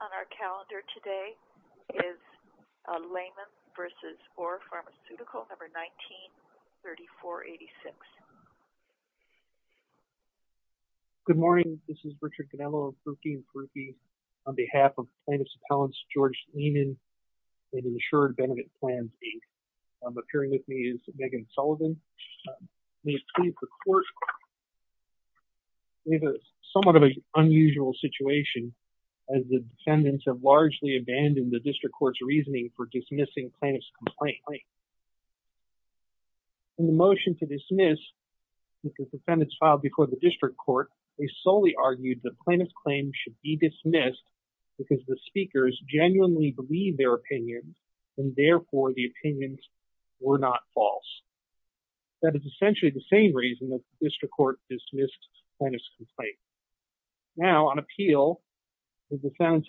on our calendar today is a layman versus or pharmaceutical number 1934 86 good morning this is Richard Canelo rookie groupie on behalf of plaintiff's appellants George Lehman and insured benefit plan eight appearing with me is Megan Sullivan we please report we have a somewhat of a unusual situation as the defendants have largely abandoned the district court's reasoning for dismissing plaintiff's complaint in the motion to dismiss the defendants filed before the district court they solely argued the plaintiff's claim should be dismissed because the speakers genuinely believe their opinions and therefore the opinions were not false that is essentially the same reason that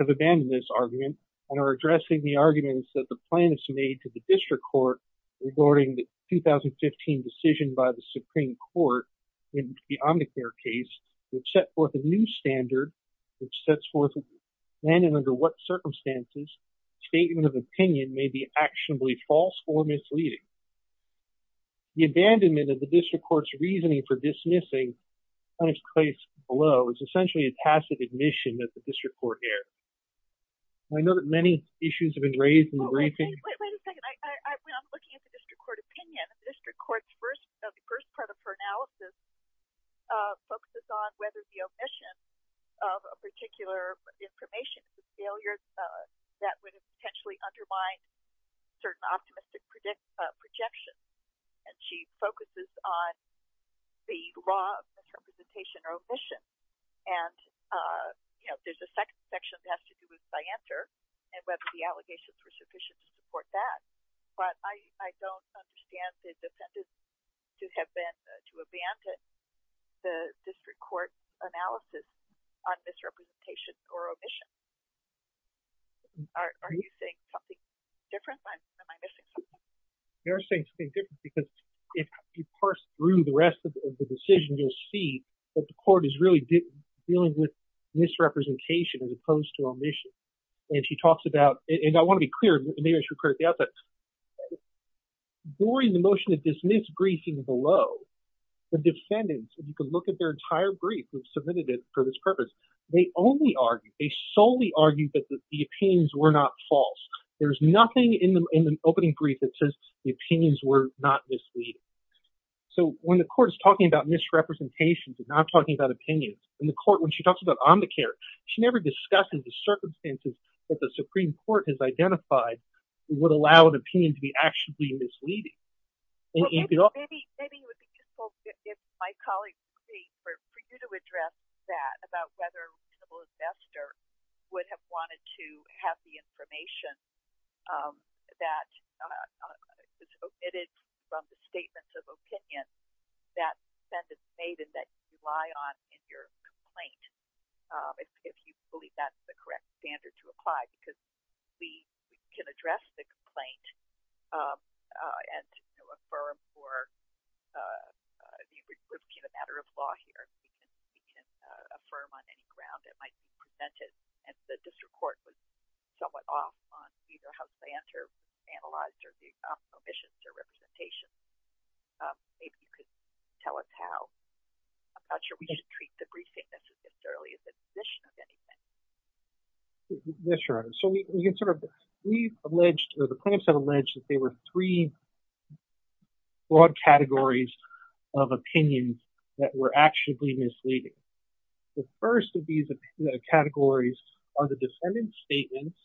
abandoned this argument and are addressing the arguments that the plaintiffs made to the district court regarding the 2015 decision by the Supreme Court in the Omnicare case which set forth a new standard which sets forth and under what circumstances statement of opinion may be actionably false or misleading the abandonment of the district courts reasoning for dismissing on its place below is essentially a tacit admission that the I know that many issues have been raised in the briefing court opinion district courts first of the first part of her analysis focuses on whether the omission of a particular information failures that would potentially undermine certain optimistic predict projection and she focuses on the raw misrepresentation or omission and you know there's a second section I enter and whether the allegations were sufficient to support that but I don't understand the defendant to have been to abandon the district court analysis on misrepresentation or omission are you saying something different because if you parse through the rest of the decision you'll see that the court is really dealing with misrepresentation as opposed to omission and she talks about it and I want to be clear that during the motion of dismiss briefing below the defendants if you could look at their entire brief we've submitted it for this purpose they only argued they solely argued that the opinions were not false there's nothing in the opening brief that says the opinions were not misleading so when the court is talking about misrepresentations and not talking about opinions in the court when she talks about on the care she never discusses the circumstances that the Supreme Court has identified would allow an opinion to be actually misleading Maybe it would be useful if my colleague could speak for you to address that about whether a reasonable investor would have wanted to have the information that was omitted from the statements of opinion that the defendant made and that you rely on in your complaint if you believe that's the correct standard to apply because we can address the complaint and affirm for the matter of law here we can affirm on any ground it might be presented and the district court was somewhat off on you know how to answer analyzed or the omissions or representation if you tell us how I'm not sure we should treat the briefing that's as early as admission of anything yes your honor so we can sort of we alleged or the plaintiffs have alleged that they were three broad categories of opinion that were actually misleading the first of these categories are the defendants statements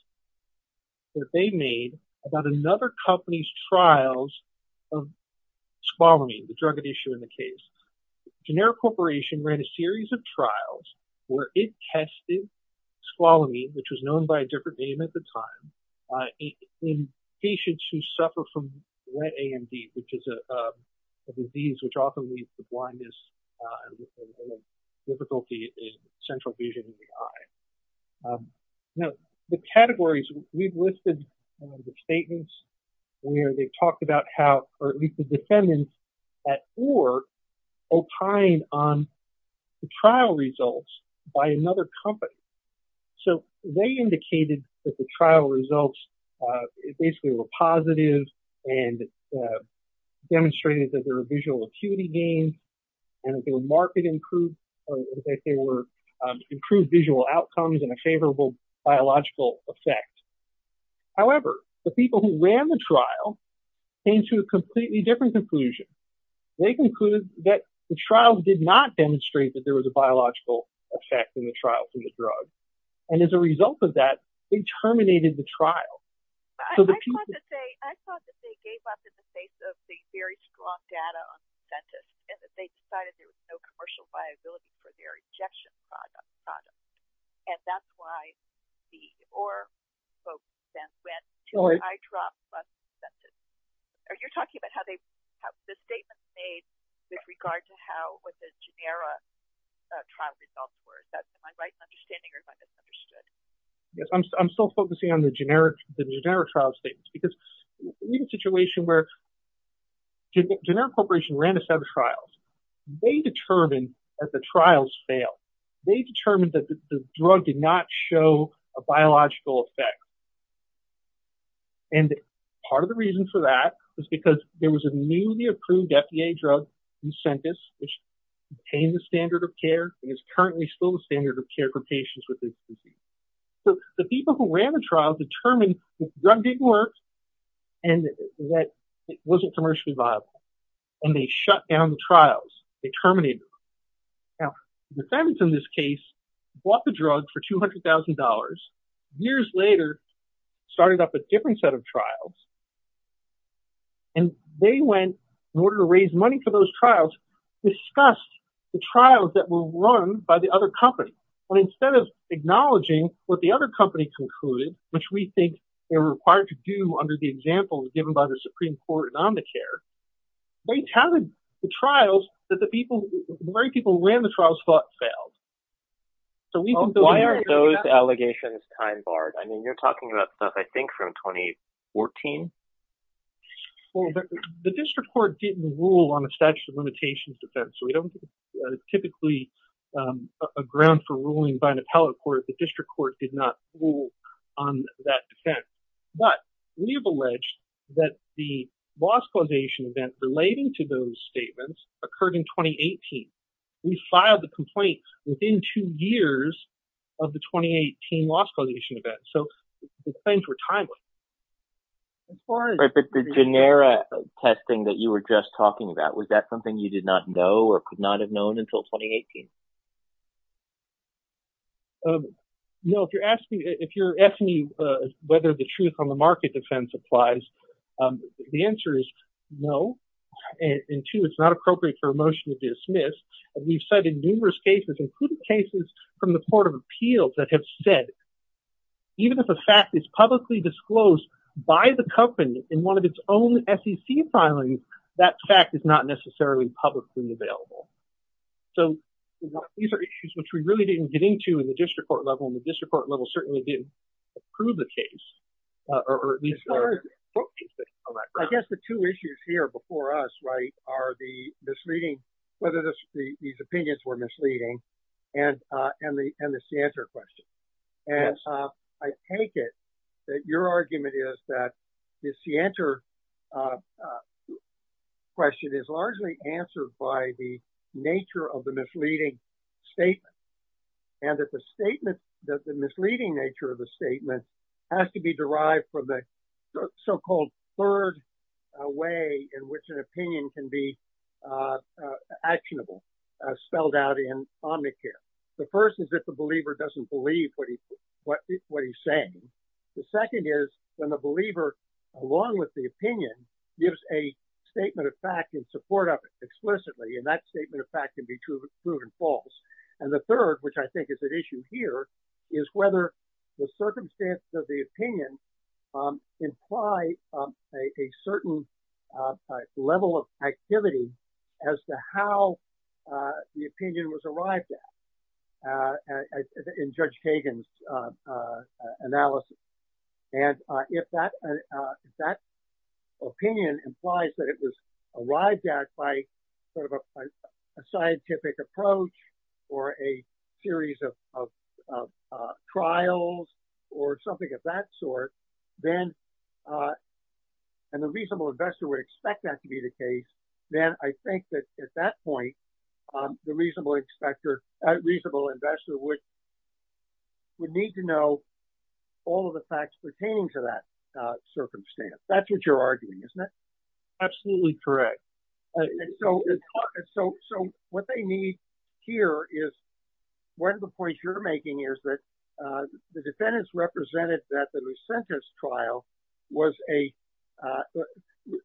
that they made about another company's trials of squalor me the drug issue in the case generic corporation ran a series of trials where it tested squalor me which was known by a different name at the time in patients who suffer from wet AMD which is a disease which often leads to blindness difficulty in central vision in the eye now the categories we've listed the statements where they talked about how or at least the defendants at or opine on the trial results by another company so they indicated that the trial results basically were positive and demonstrated that their visual acuity gain and if your market improved if they were improved visual outcomes and a however the people who ran the trial came to a completely different conclusion they concluded that the trial did not demonstrate that there was a biological effect in the trial for the drug and as a result of that they terminated the trial you're talking about how they have this statement made with regard to how with the genera trial results were that's my right understanding or if I just understood yes I'm still focusing on the generic the generic trial statements because in a situation where generic corporation ran a set of trials they determined that the trials fail they determined that the drug did not show a and part of the reason for that was because there was a newly approved FDA drug you sent us which became the standard of care is currently still the standard of care for patients with this disease so the people who ran the trial determined drug didn't work and that it wasn't commercially viable and they shut down the trials they terminated now defendants in this case bought the drug for $200,000 years later started up a different set of trials and they went in order to raise money for those trials discussed the trials that were run by the other company but instead of acknowledging what the other company concluded which we think they're required to do under the example given by the Supreme Court and on the care they counted the trials that the people people ran the trials thought failed so we why aren't those allegations time barred I mean you're talking about stuff I think from 2014 the district court didn't rule on a statute of limitations defense so we don't typically a ground for ruling by an appellate court the district court did not rule on that defense but we have alleged that the loss causation event relating to those statements occurred in 2018 we filed the complaint within two years of the 2018 loss causation event so things were timely or if it's a genera testing that you were just talking about was that something you did not know or could not have known until 2018 no if you're asking if you're asking me whether the truth on the market defense the answer is no and two it's not appropriate for a motion to dismiss we've cited numerous cases including cases from the Court of Appeals that have said even if the fact is publicly disclosed by the company in one of its own SEC filing that fact is not necessarily publicly available so these are issues which we really didn't get into in the district court level in the district court level certainly didn't prove the case I guess the two issues here before us right are the misleading whether this these opinions were misleading and and the and this the answer question and I take it that your argument is that this the answer question is largely answered by the nature of the misleading statement and that the statement that the misleading nature of the statement has to be derived from the so-called third way in which an opinion can be actionable spelled out in Omnicare the first is that the believer doesn't believe what he what what he's saying the second is when the believer along with the opinion gives a statement of fact in support of it explicitly and that statement of fact can be true proven false and the third which I think is an issue here is whether the circumstances of the opinion imply a certain level of activity as to how the opinion was arrived at in Judge Kagan's analysis and if that that opinion implies that it was arrived at by sort of a scientific approach or a series of trials or something of that sort then and the reasonable investor would expect that to be the case then I think that at that point the reasonable inspector a reasonable investor which would need to know all of the facts pertaining to that circumstance that's what you're arguing isn't it absolutely correct so so what they need here is one of the points you're making is that the defendants represented that the Lucentis trial was a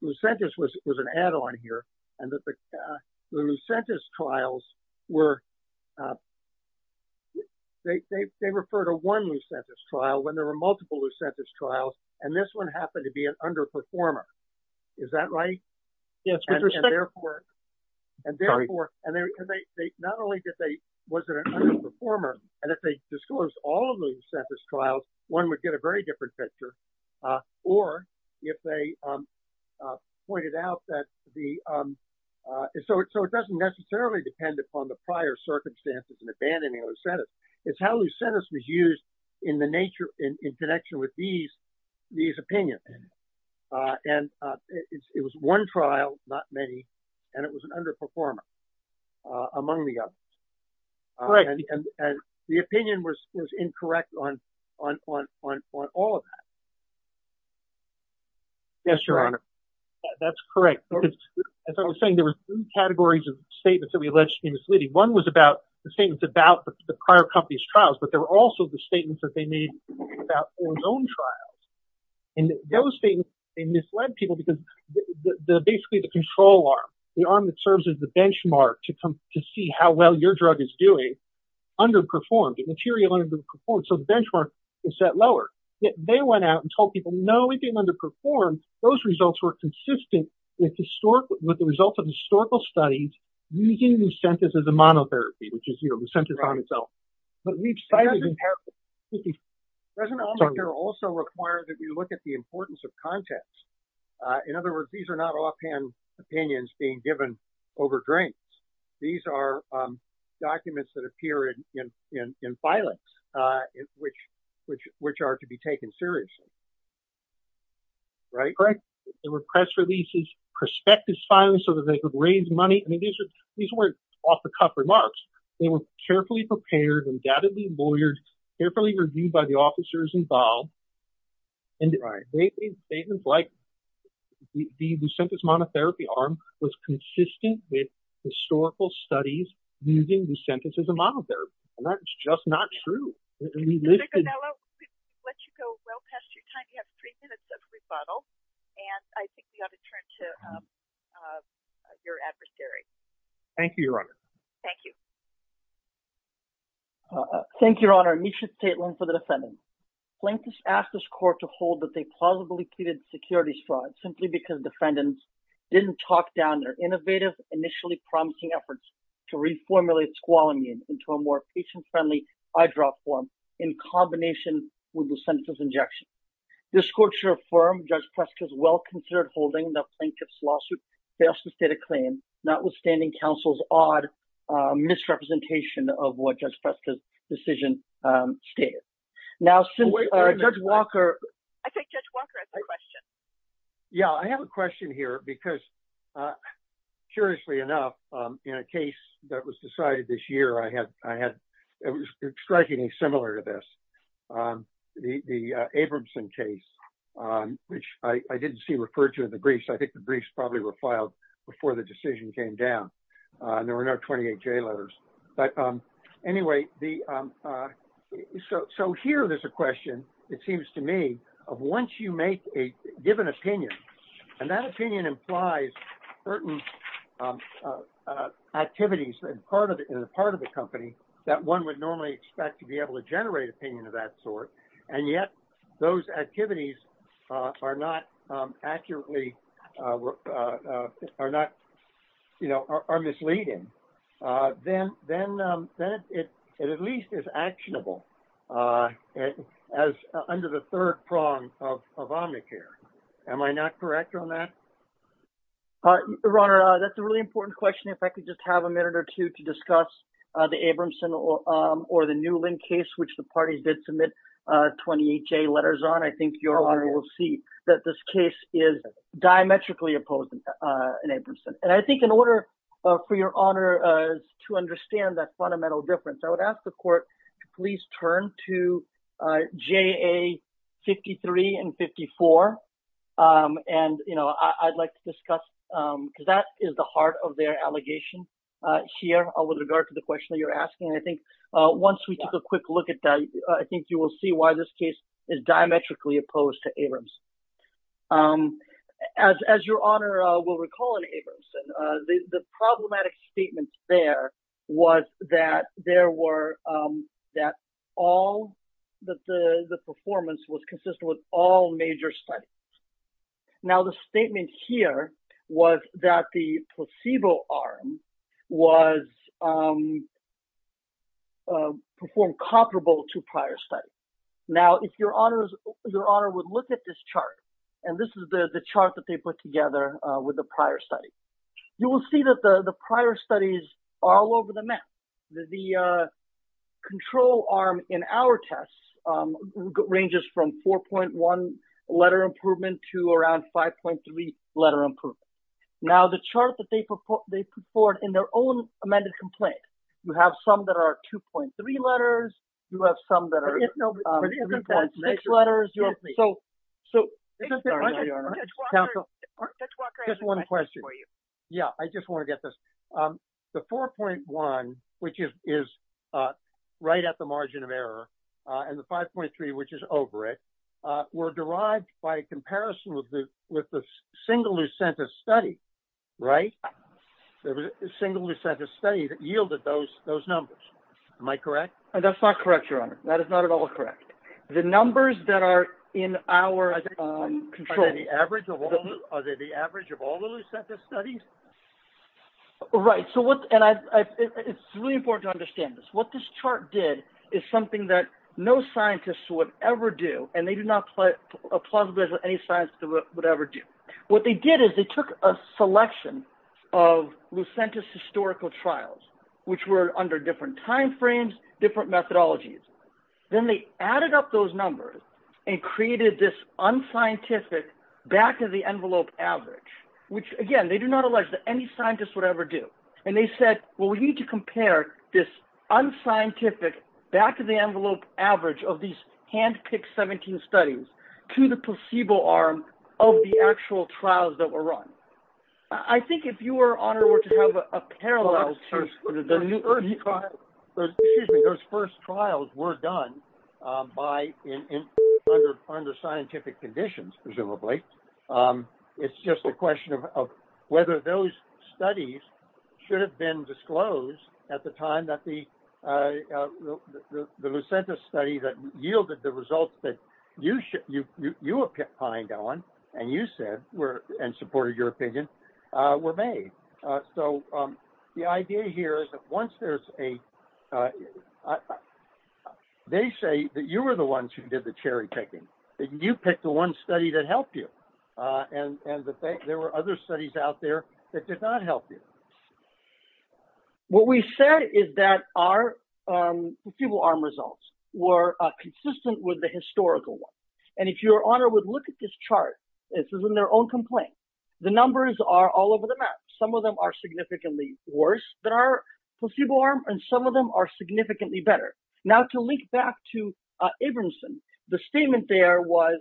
Lucentis was an add-on here and that the Lucentis trials were they refer to one Lucentis trial when there were multiple Lucentis trials and this one happened to be an underperformer is that right yes and therefore and therefore and they not only did they wasn't a performer and if they disclosed all of the Lucentis trials one would get a very different picture or if they pointed out that the so it so it doesn't necessarily depend upon the prior circumstances and abandoning Lucentis it's how Lucentis was used in the nature in connection with these these opinions and it was one trial not many and it was an underperformer among the others right and the opinion was incorrect on on on on all of that yes your honor that's correct as I was saying there were two categories of statements that we alleged he was leading one was about the same it's about the prior company's trials but there were also the statements that they made about their own trials and those things they misled people because basically the control arm the arm that serves as the benchmark to come to see how well your drug is doing underperformed the material under performed so the benchmark is set lower yet they went out and told people no we've been underperformed those results were consistent with historically with the results of historical studies using Lucentis as a monotherapy which is you know Lucentis on itself but we've cited in particular doesn't also require that you look at the importance of context in other words these are not offhand opinions being given over drinks these are documents that appear in in in filings in which which which are to be taken seriously right correct there were press releases perspective silence so that they could raise money I mean these are these weren't off-the-cuff remarks they were carefully prepared undoubtedly lawyers carefully reviewed by the officers involved and the statements like the Lucentis monotherapy arm was consistent with historical studies using Lucentis as a monotherapy and that's just not true let you go well past your time you have three minutes of rebuttal and I think you have to turn to your adversary thank you your honor thank you thank your honor Misha Tatelin for the defendant plaintiffs asked this court to hold that they plausibly pleaded securities fraud simply because defendants didn't talk down their innovative initially promising efforts to reformulate squalanein into a more patient-friendly eyedrop form in combination with the sentence of injection this court your firm judge Prescott's well-considered holding the plaintiff's lawsuit they also state a claim notwithstanding counsel's odd misrepresentation of what judge Preston's decision stated now since Judge Walker yeah I have a question here because curiously enough in a case that was decided this year I had I had strikingly similar to this the Abramson case which I didn't see referred to in the briefs I think the briefs probably were filed before the decision came down there were no 28 J letters but anyway the so so here there's a question it seems to me of once you make a given opinion and that that one would normally expect to be able to generate opinion of that sort and yet those activities are not accurately are not you know are misleading then then then it at least is actionable as under the third prong of Omnicare am I not correct on that the runner that's a really important question if I could just have a minute or two to discuss the Abramson or the Newland case which the parties did submit 28 J letters on I think your honor will see that this case is diametrically opposed in a person and I think in order for your honor to understand that fundamental difference I would ask the court to please turn to JA 53 and 54 and you know I'd like to here with regard to the question that you're asking I think once we took a quick look at that I think you will see why this case is diametrically opposed to Abrams as your honor will recall in Abramson the problematic statements there was that there were that all that the the performance was consistent with all major site now the statement here was that the placebo arm was performed comparable to prior study now if your honors your honor would look at this chart and this is the the chart that they put together with the prior study you will see that the the prior studies all over the map the control arm in our tests ranges from 4.1 letter improvement to around 5.3 letter improvement now the chart that they put they put forward in their own amended complaint you have some that are 2.3 letters you have some that are six letters so just one question for you yeah I just want to get this the 4.1 which is right at the margin of error and the 5.3 which is over it were derived by a comparison with the with the single who sent a study right there was a single who sent a study that yielded those those numbers am I correct and that's not correct your honor that is not at all correct the numbers that are in our control the average of other the average of all the studies all right so what and I it's really important to understand this what this chart did is something that no scientists would ever do and they do not play a plausible any science would ever do what they did is they took a selection of Lucentis historical trials which were under different time frames different methodologies then they added up those numbers and created this unscientific back-of-the-envelope average which again they do not allege that any scientists would ever do and they said well we need to compare this unscientific back-of-the-envelope average of these hand-picked 17 studies to the placebo arm of the actual trials that were run I think if you were honored were to have a parallel to the new early trial those first trials were done by in under scientific conditions presumably it's just a question of whether those studies should have been disclosed at the time that the the Lucentis study that yielded the results that you should you you were pined on and you said were and supported your opinion were made so the idea here is that once there's a they say that you were the ones who did the cherry-picking you picked the one study that helped you and and the fact there were other studies out there that did not help you what we said is that our people arm results were consistent with the historical one and if your honor would look at this chart this is in their own complaint the numbers are all over the map some of them are significantly worse than our placebo arm and some of them are significantly better now to link back to Abramson the statement there was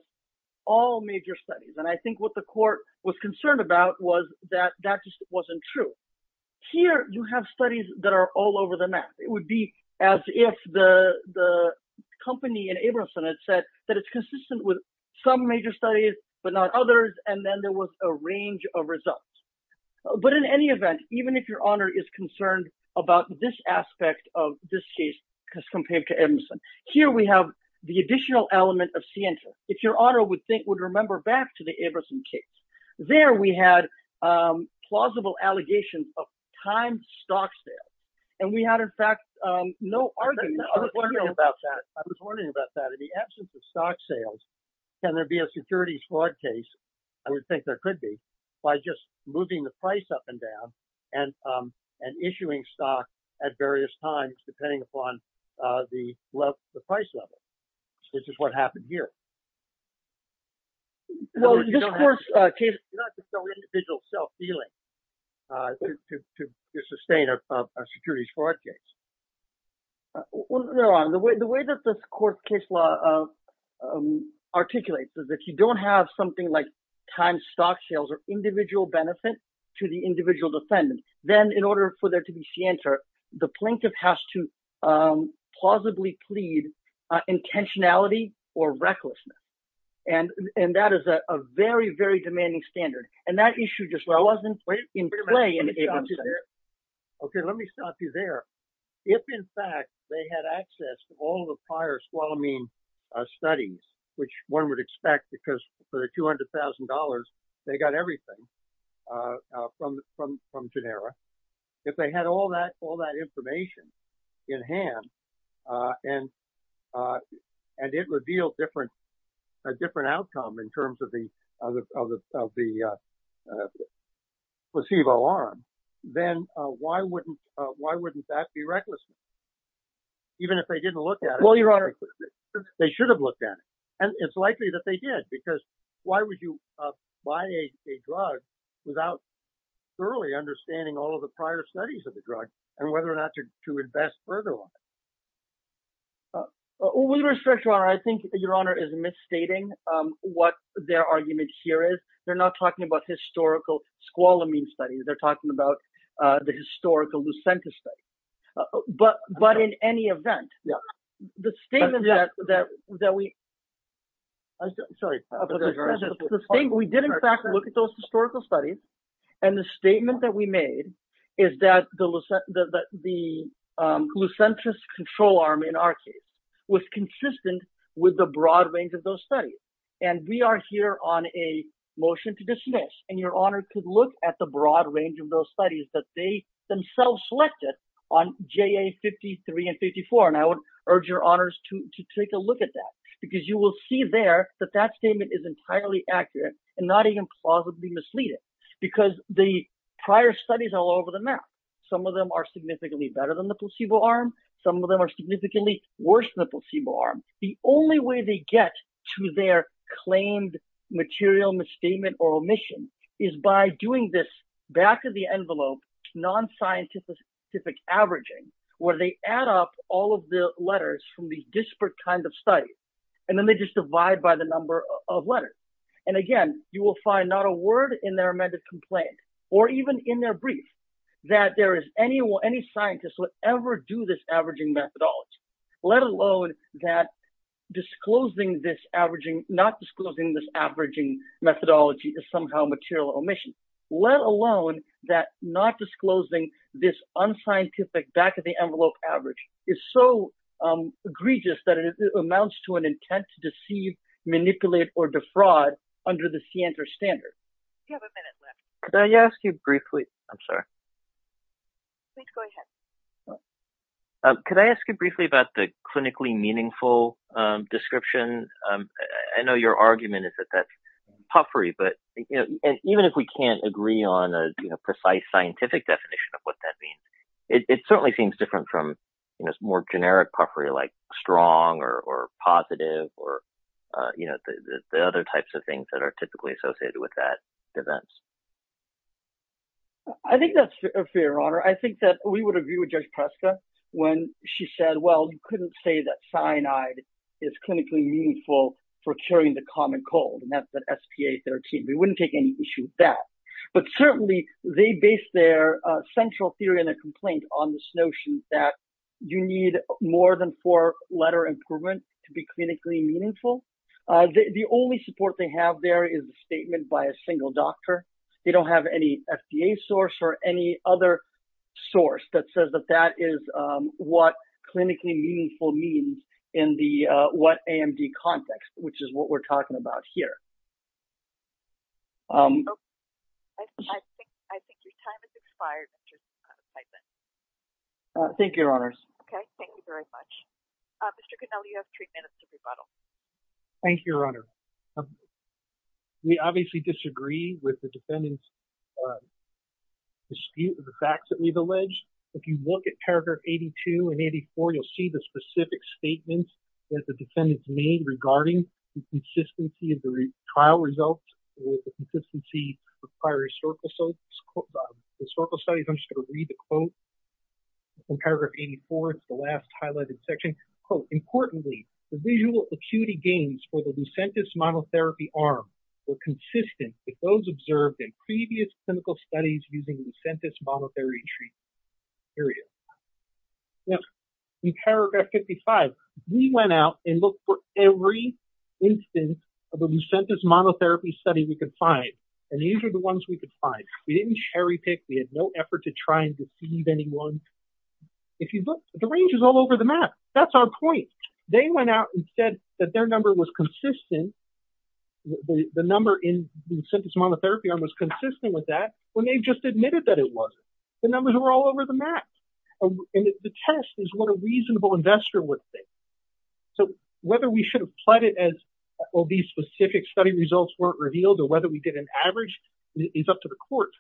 all major studies and I think what the court was concerned about was that that just wasn't true here you have studies that are all over the map it would be as if the the company and Abramson had said that it's consistent with some major studies but not others and then there was a range of results but in any event even if your honor is concerned about this aspect of this case because compared to Emerson here we have the additional element of scienti if your honor would think would remember back to the Abramson case there we had plausible allegations of time stocks there and we had in fact no argument about that I was wondering about that in the absence of stock sales can there be a security fraud case I would think there could be by just moving the price up and down and and issuing stock at various times depending upon the love the price level this is what happened here individual self-healing to sustain a securities fraud case the way the way that this court case law articulates is if you don't have something like time stock sales or individual benefit to the individual defendant then in order for intentionality or recklessness and and that is a very very demanding standard and that issue just well I wasn't in play in it okay let me stop you there if in fact they had access to all the prior squalamine studies which one would expect because for the $200,000 they got everything from from from genera if they had all that all that information in hand and and it revealed different a different outcome in terms of the placebo arm then why wouldn't why wouldn't that be reckless even if they didn't look at well you're right they should have looked at it and it's likely that they did because why would you buy a drug without early understanding all of the prior studies of the drug and whether or not to invest further on we restrict your honor I think your honor is misstating what their argument here is they're not talking about historical squalamine studies they're talking about the historical Lucenta study but but in any event yeah the statement that that that we think we did in fact look at those historical studies and the statement that we made is that the Lucentis control arm in our case was consistent with the broad range of those studies and we are here on a motion to dismiss and you're honored to look at the broad range of those studies that they themselves selected on ja53 and 54 and I would urge your honors to take a look at that because you will see there that that statement is entirely accurate and not even possibly misleading because the prior studies all over the map some of them are significantly better than the placebo arm some of them are significantly worse than the placebo arm the only way they get to their claimed material misstatement or omission is by doing this back-of-the-envelope non-scientific averaging where they add up all of the letters from these disparate kinds of studies and then they just divide by the number of letters and again you will find not a word in their amended complaint or even in their brief that there is anyone any scientist will ever do this averaging methodology let alone that disclosing this averaging not let alone that not disclosing this unscientific back-of-the-envelope average is so egregious that it amounts to an intent to deceive manipulate or defraud under the scienter standard yes you briefly I'm sorry could I ask you briefly about the clinically meaningful description I know your argument is that puffery but even if we can't agree on a precise scientific definition of what that means it certainly seems different from you know it's more generic puffery like strong or positive or you know the other types of things that are typically associated with that defense I think that's a fair honor I think that we would agree with judge Prescott when she said well you couldn't say that cyanide is clinically meaningful for curing the common cold and that's that SPA 13 we wouldn't take any issue with that but certainly they based their central theory and a complaint on this notion that you need more than four letter improvement to be clinically meaningful the only support they have there is a statement by a single doctor they don't have any FDA source or any other source that says that that is what clinically meaningful means in the what AMD context which is what we're talking about here thank your honors okay thank you very much mr. good now you have three minutes to rebuttal thank you your honor we obviously disagree with the defendants dispute the facts that we've alleged if you look at paragraph 82 and 84 you'll see the specific statements that the defendants made regarding the consistency of the trial results with the consistency of prior historical so historical studies understood to read the quote from paragraph 84 it's the last highlighted section quote importantly the visual acuity gains for the Lucentis model therapy arm were consistent with those observed in previous clinical studies using Lucentis monotherapy treatment area yes in paragraph 55 we went out and looked for every instance of a Lucentis monotherapy study we could find and these are the ones we could find we didn't cherry-pick we had no effort to try and deceive anyone if you look the range is all over the map that's our point they went out and said that their was consistent the number in Lucentis monotherapy arm was consistent with that when they just admitted that it was the numbers were all over the map and the test is what a reasonable investor would say so whether we should have plotted as well these specific study results weren't revealed or whether we get an average it's up to the court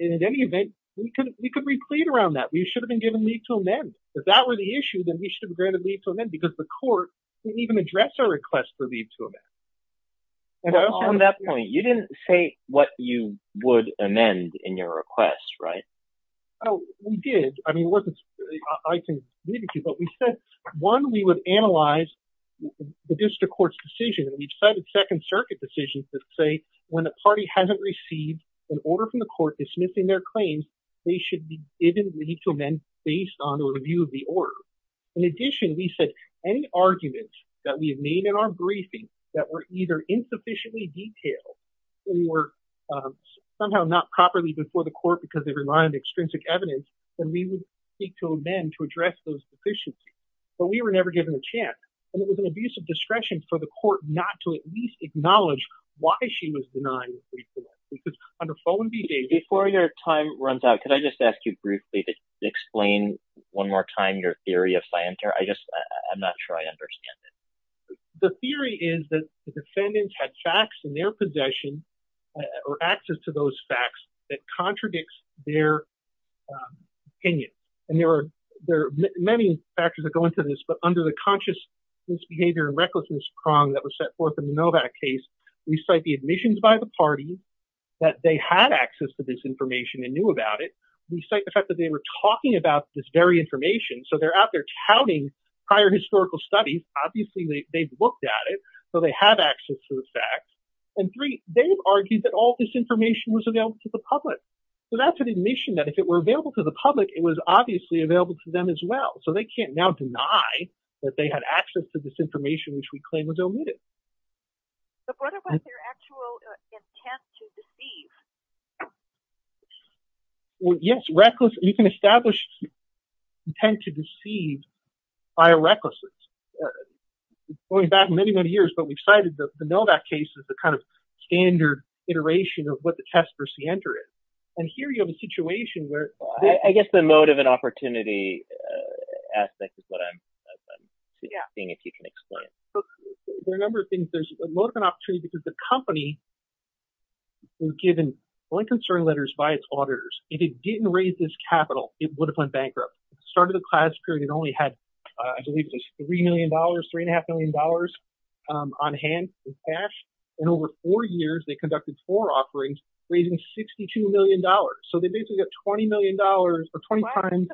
in any event we could we could read clean around that we should have been given me to amend if that were the issue then we should be granted leave to amend because the court didn't even address our request for leave to amend and on that point you didn't say what you would amend in your request right oh we did I mean one we would analyze the district court's decision we decided Second Circuit decisions to say when the party hasn't received an order from the court dismissing their claims they should be to amend based on the review of the order in addition we said any argument that we have made in our briefing that were either insufficiently detailed we were somehow not properly before the court because they rely on extrinsic evidence and we would speak to amend to address those deficiencies but we were never given a chance and it was an abuse of discretion for the court not to at least acknowledge why she was denied before your time runs out could I just ask you briefly to explain one more time your theory if I enter I just I'm not sure I understand it the theory is that the defendants had facts in their possession or access to those facts that contradicts their opinion and there are there many factors that go into this but under the conscious misbehavior and recklessness prong that was set forth in the Novak case we cite the admissions by the parties that they had access to this information and knew about it we cite the fact that they were talking about this very information so they're out there touting prior historical studies obviously they've looked at it so they have access to the facts and three they've argued that all this information was available to the public so that's an admission that if it were available to the public it was obviously available to them as well so they can't now deny that they had access to this information which we claim was omitted yes reckless you can establish intent to deceive by a recklessness going back many many years but we've cited the know that case is the kind of standard iteration of what the test for C enter it and here you have a situation where I guess the motive and opportunity aspect is what I'm seeing if you can explain there are a number of things there's a lot of an opportunity because the company was given Blenheim story letters by its auditors if it didn't raise this capital it would have went bankrupt started a class period it only had I believe this three million dollars three and a half million dollars on hand cash and over four years they conducted four offerings raising sixty two million dollars so they basically got twenty million dollars for twenty times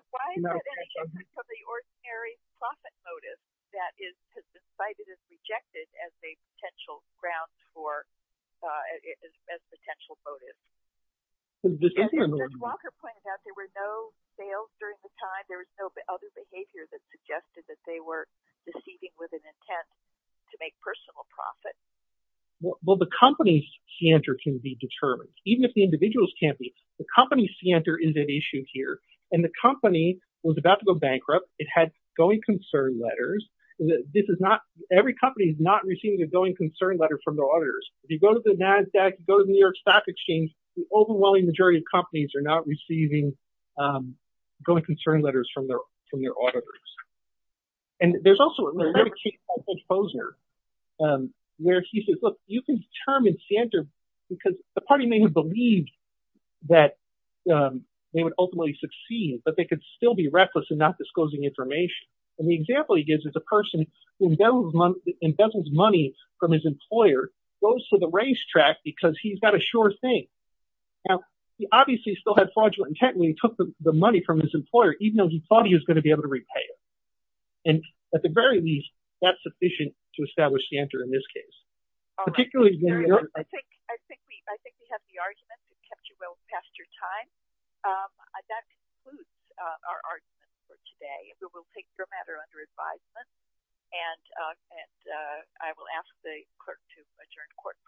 rejected as a potential grounds for potential motive Walker pointed out there were no sales during the time there was no other behavior that suggested that they were deceiving with an intent to make personal profit well the company's C enter can be determined even if the individuals can't be the company C enter is an issue here and the company was about to go bankrupt it had going concern letters this is not every company is not receiving a going concern letter from the auditors if you go to the NASDAQ go to the New York Stock Exchange the overwhelming majority of companies are not receiving going concern letters from their from their auditors and there's also a little composer where he says look you can determine C enter because the party may have believed that they would ultimately succeed but they could still be reckless and not disclosing information and the example he gives is a person who knows money from his employer goes to the racetrack because he's got a sure thing now he obviously still had fraudulent intent when he took the money from his employer even though he thought he was going to be able to repay it and at the very least that's sufficient to establish the enter in this case today we will take your matter under advisement and and I will ask the clerk to adjourn court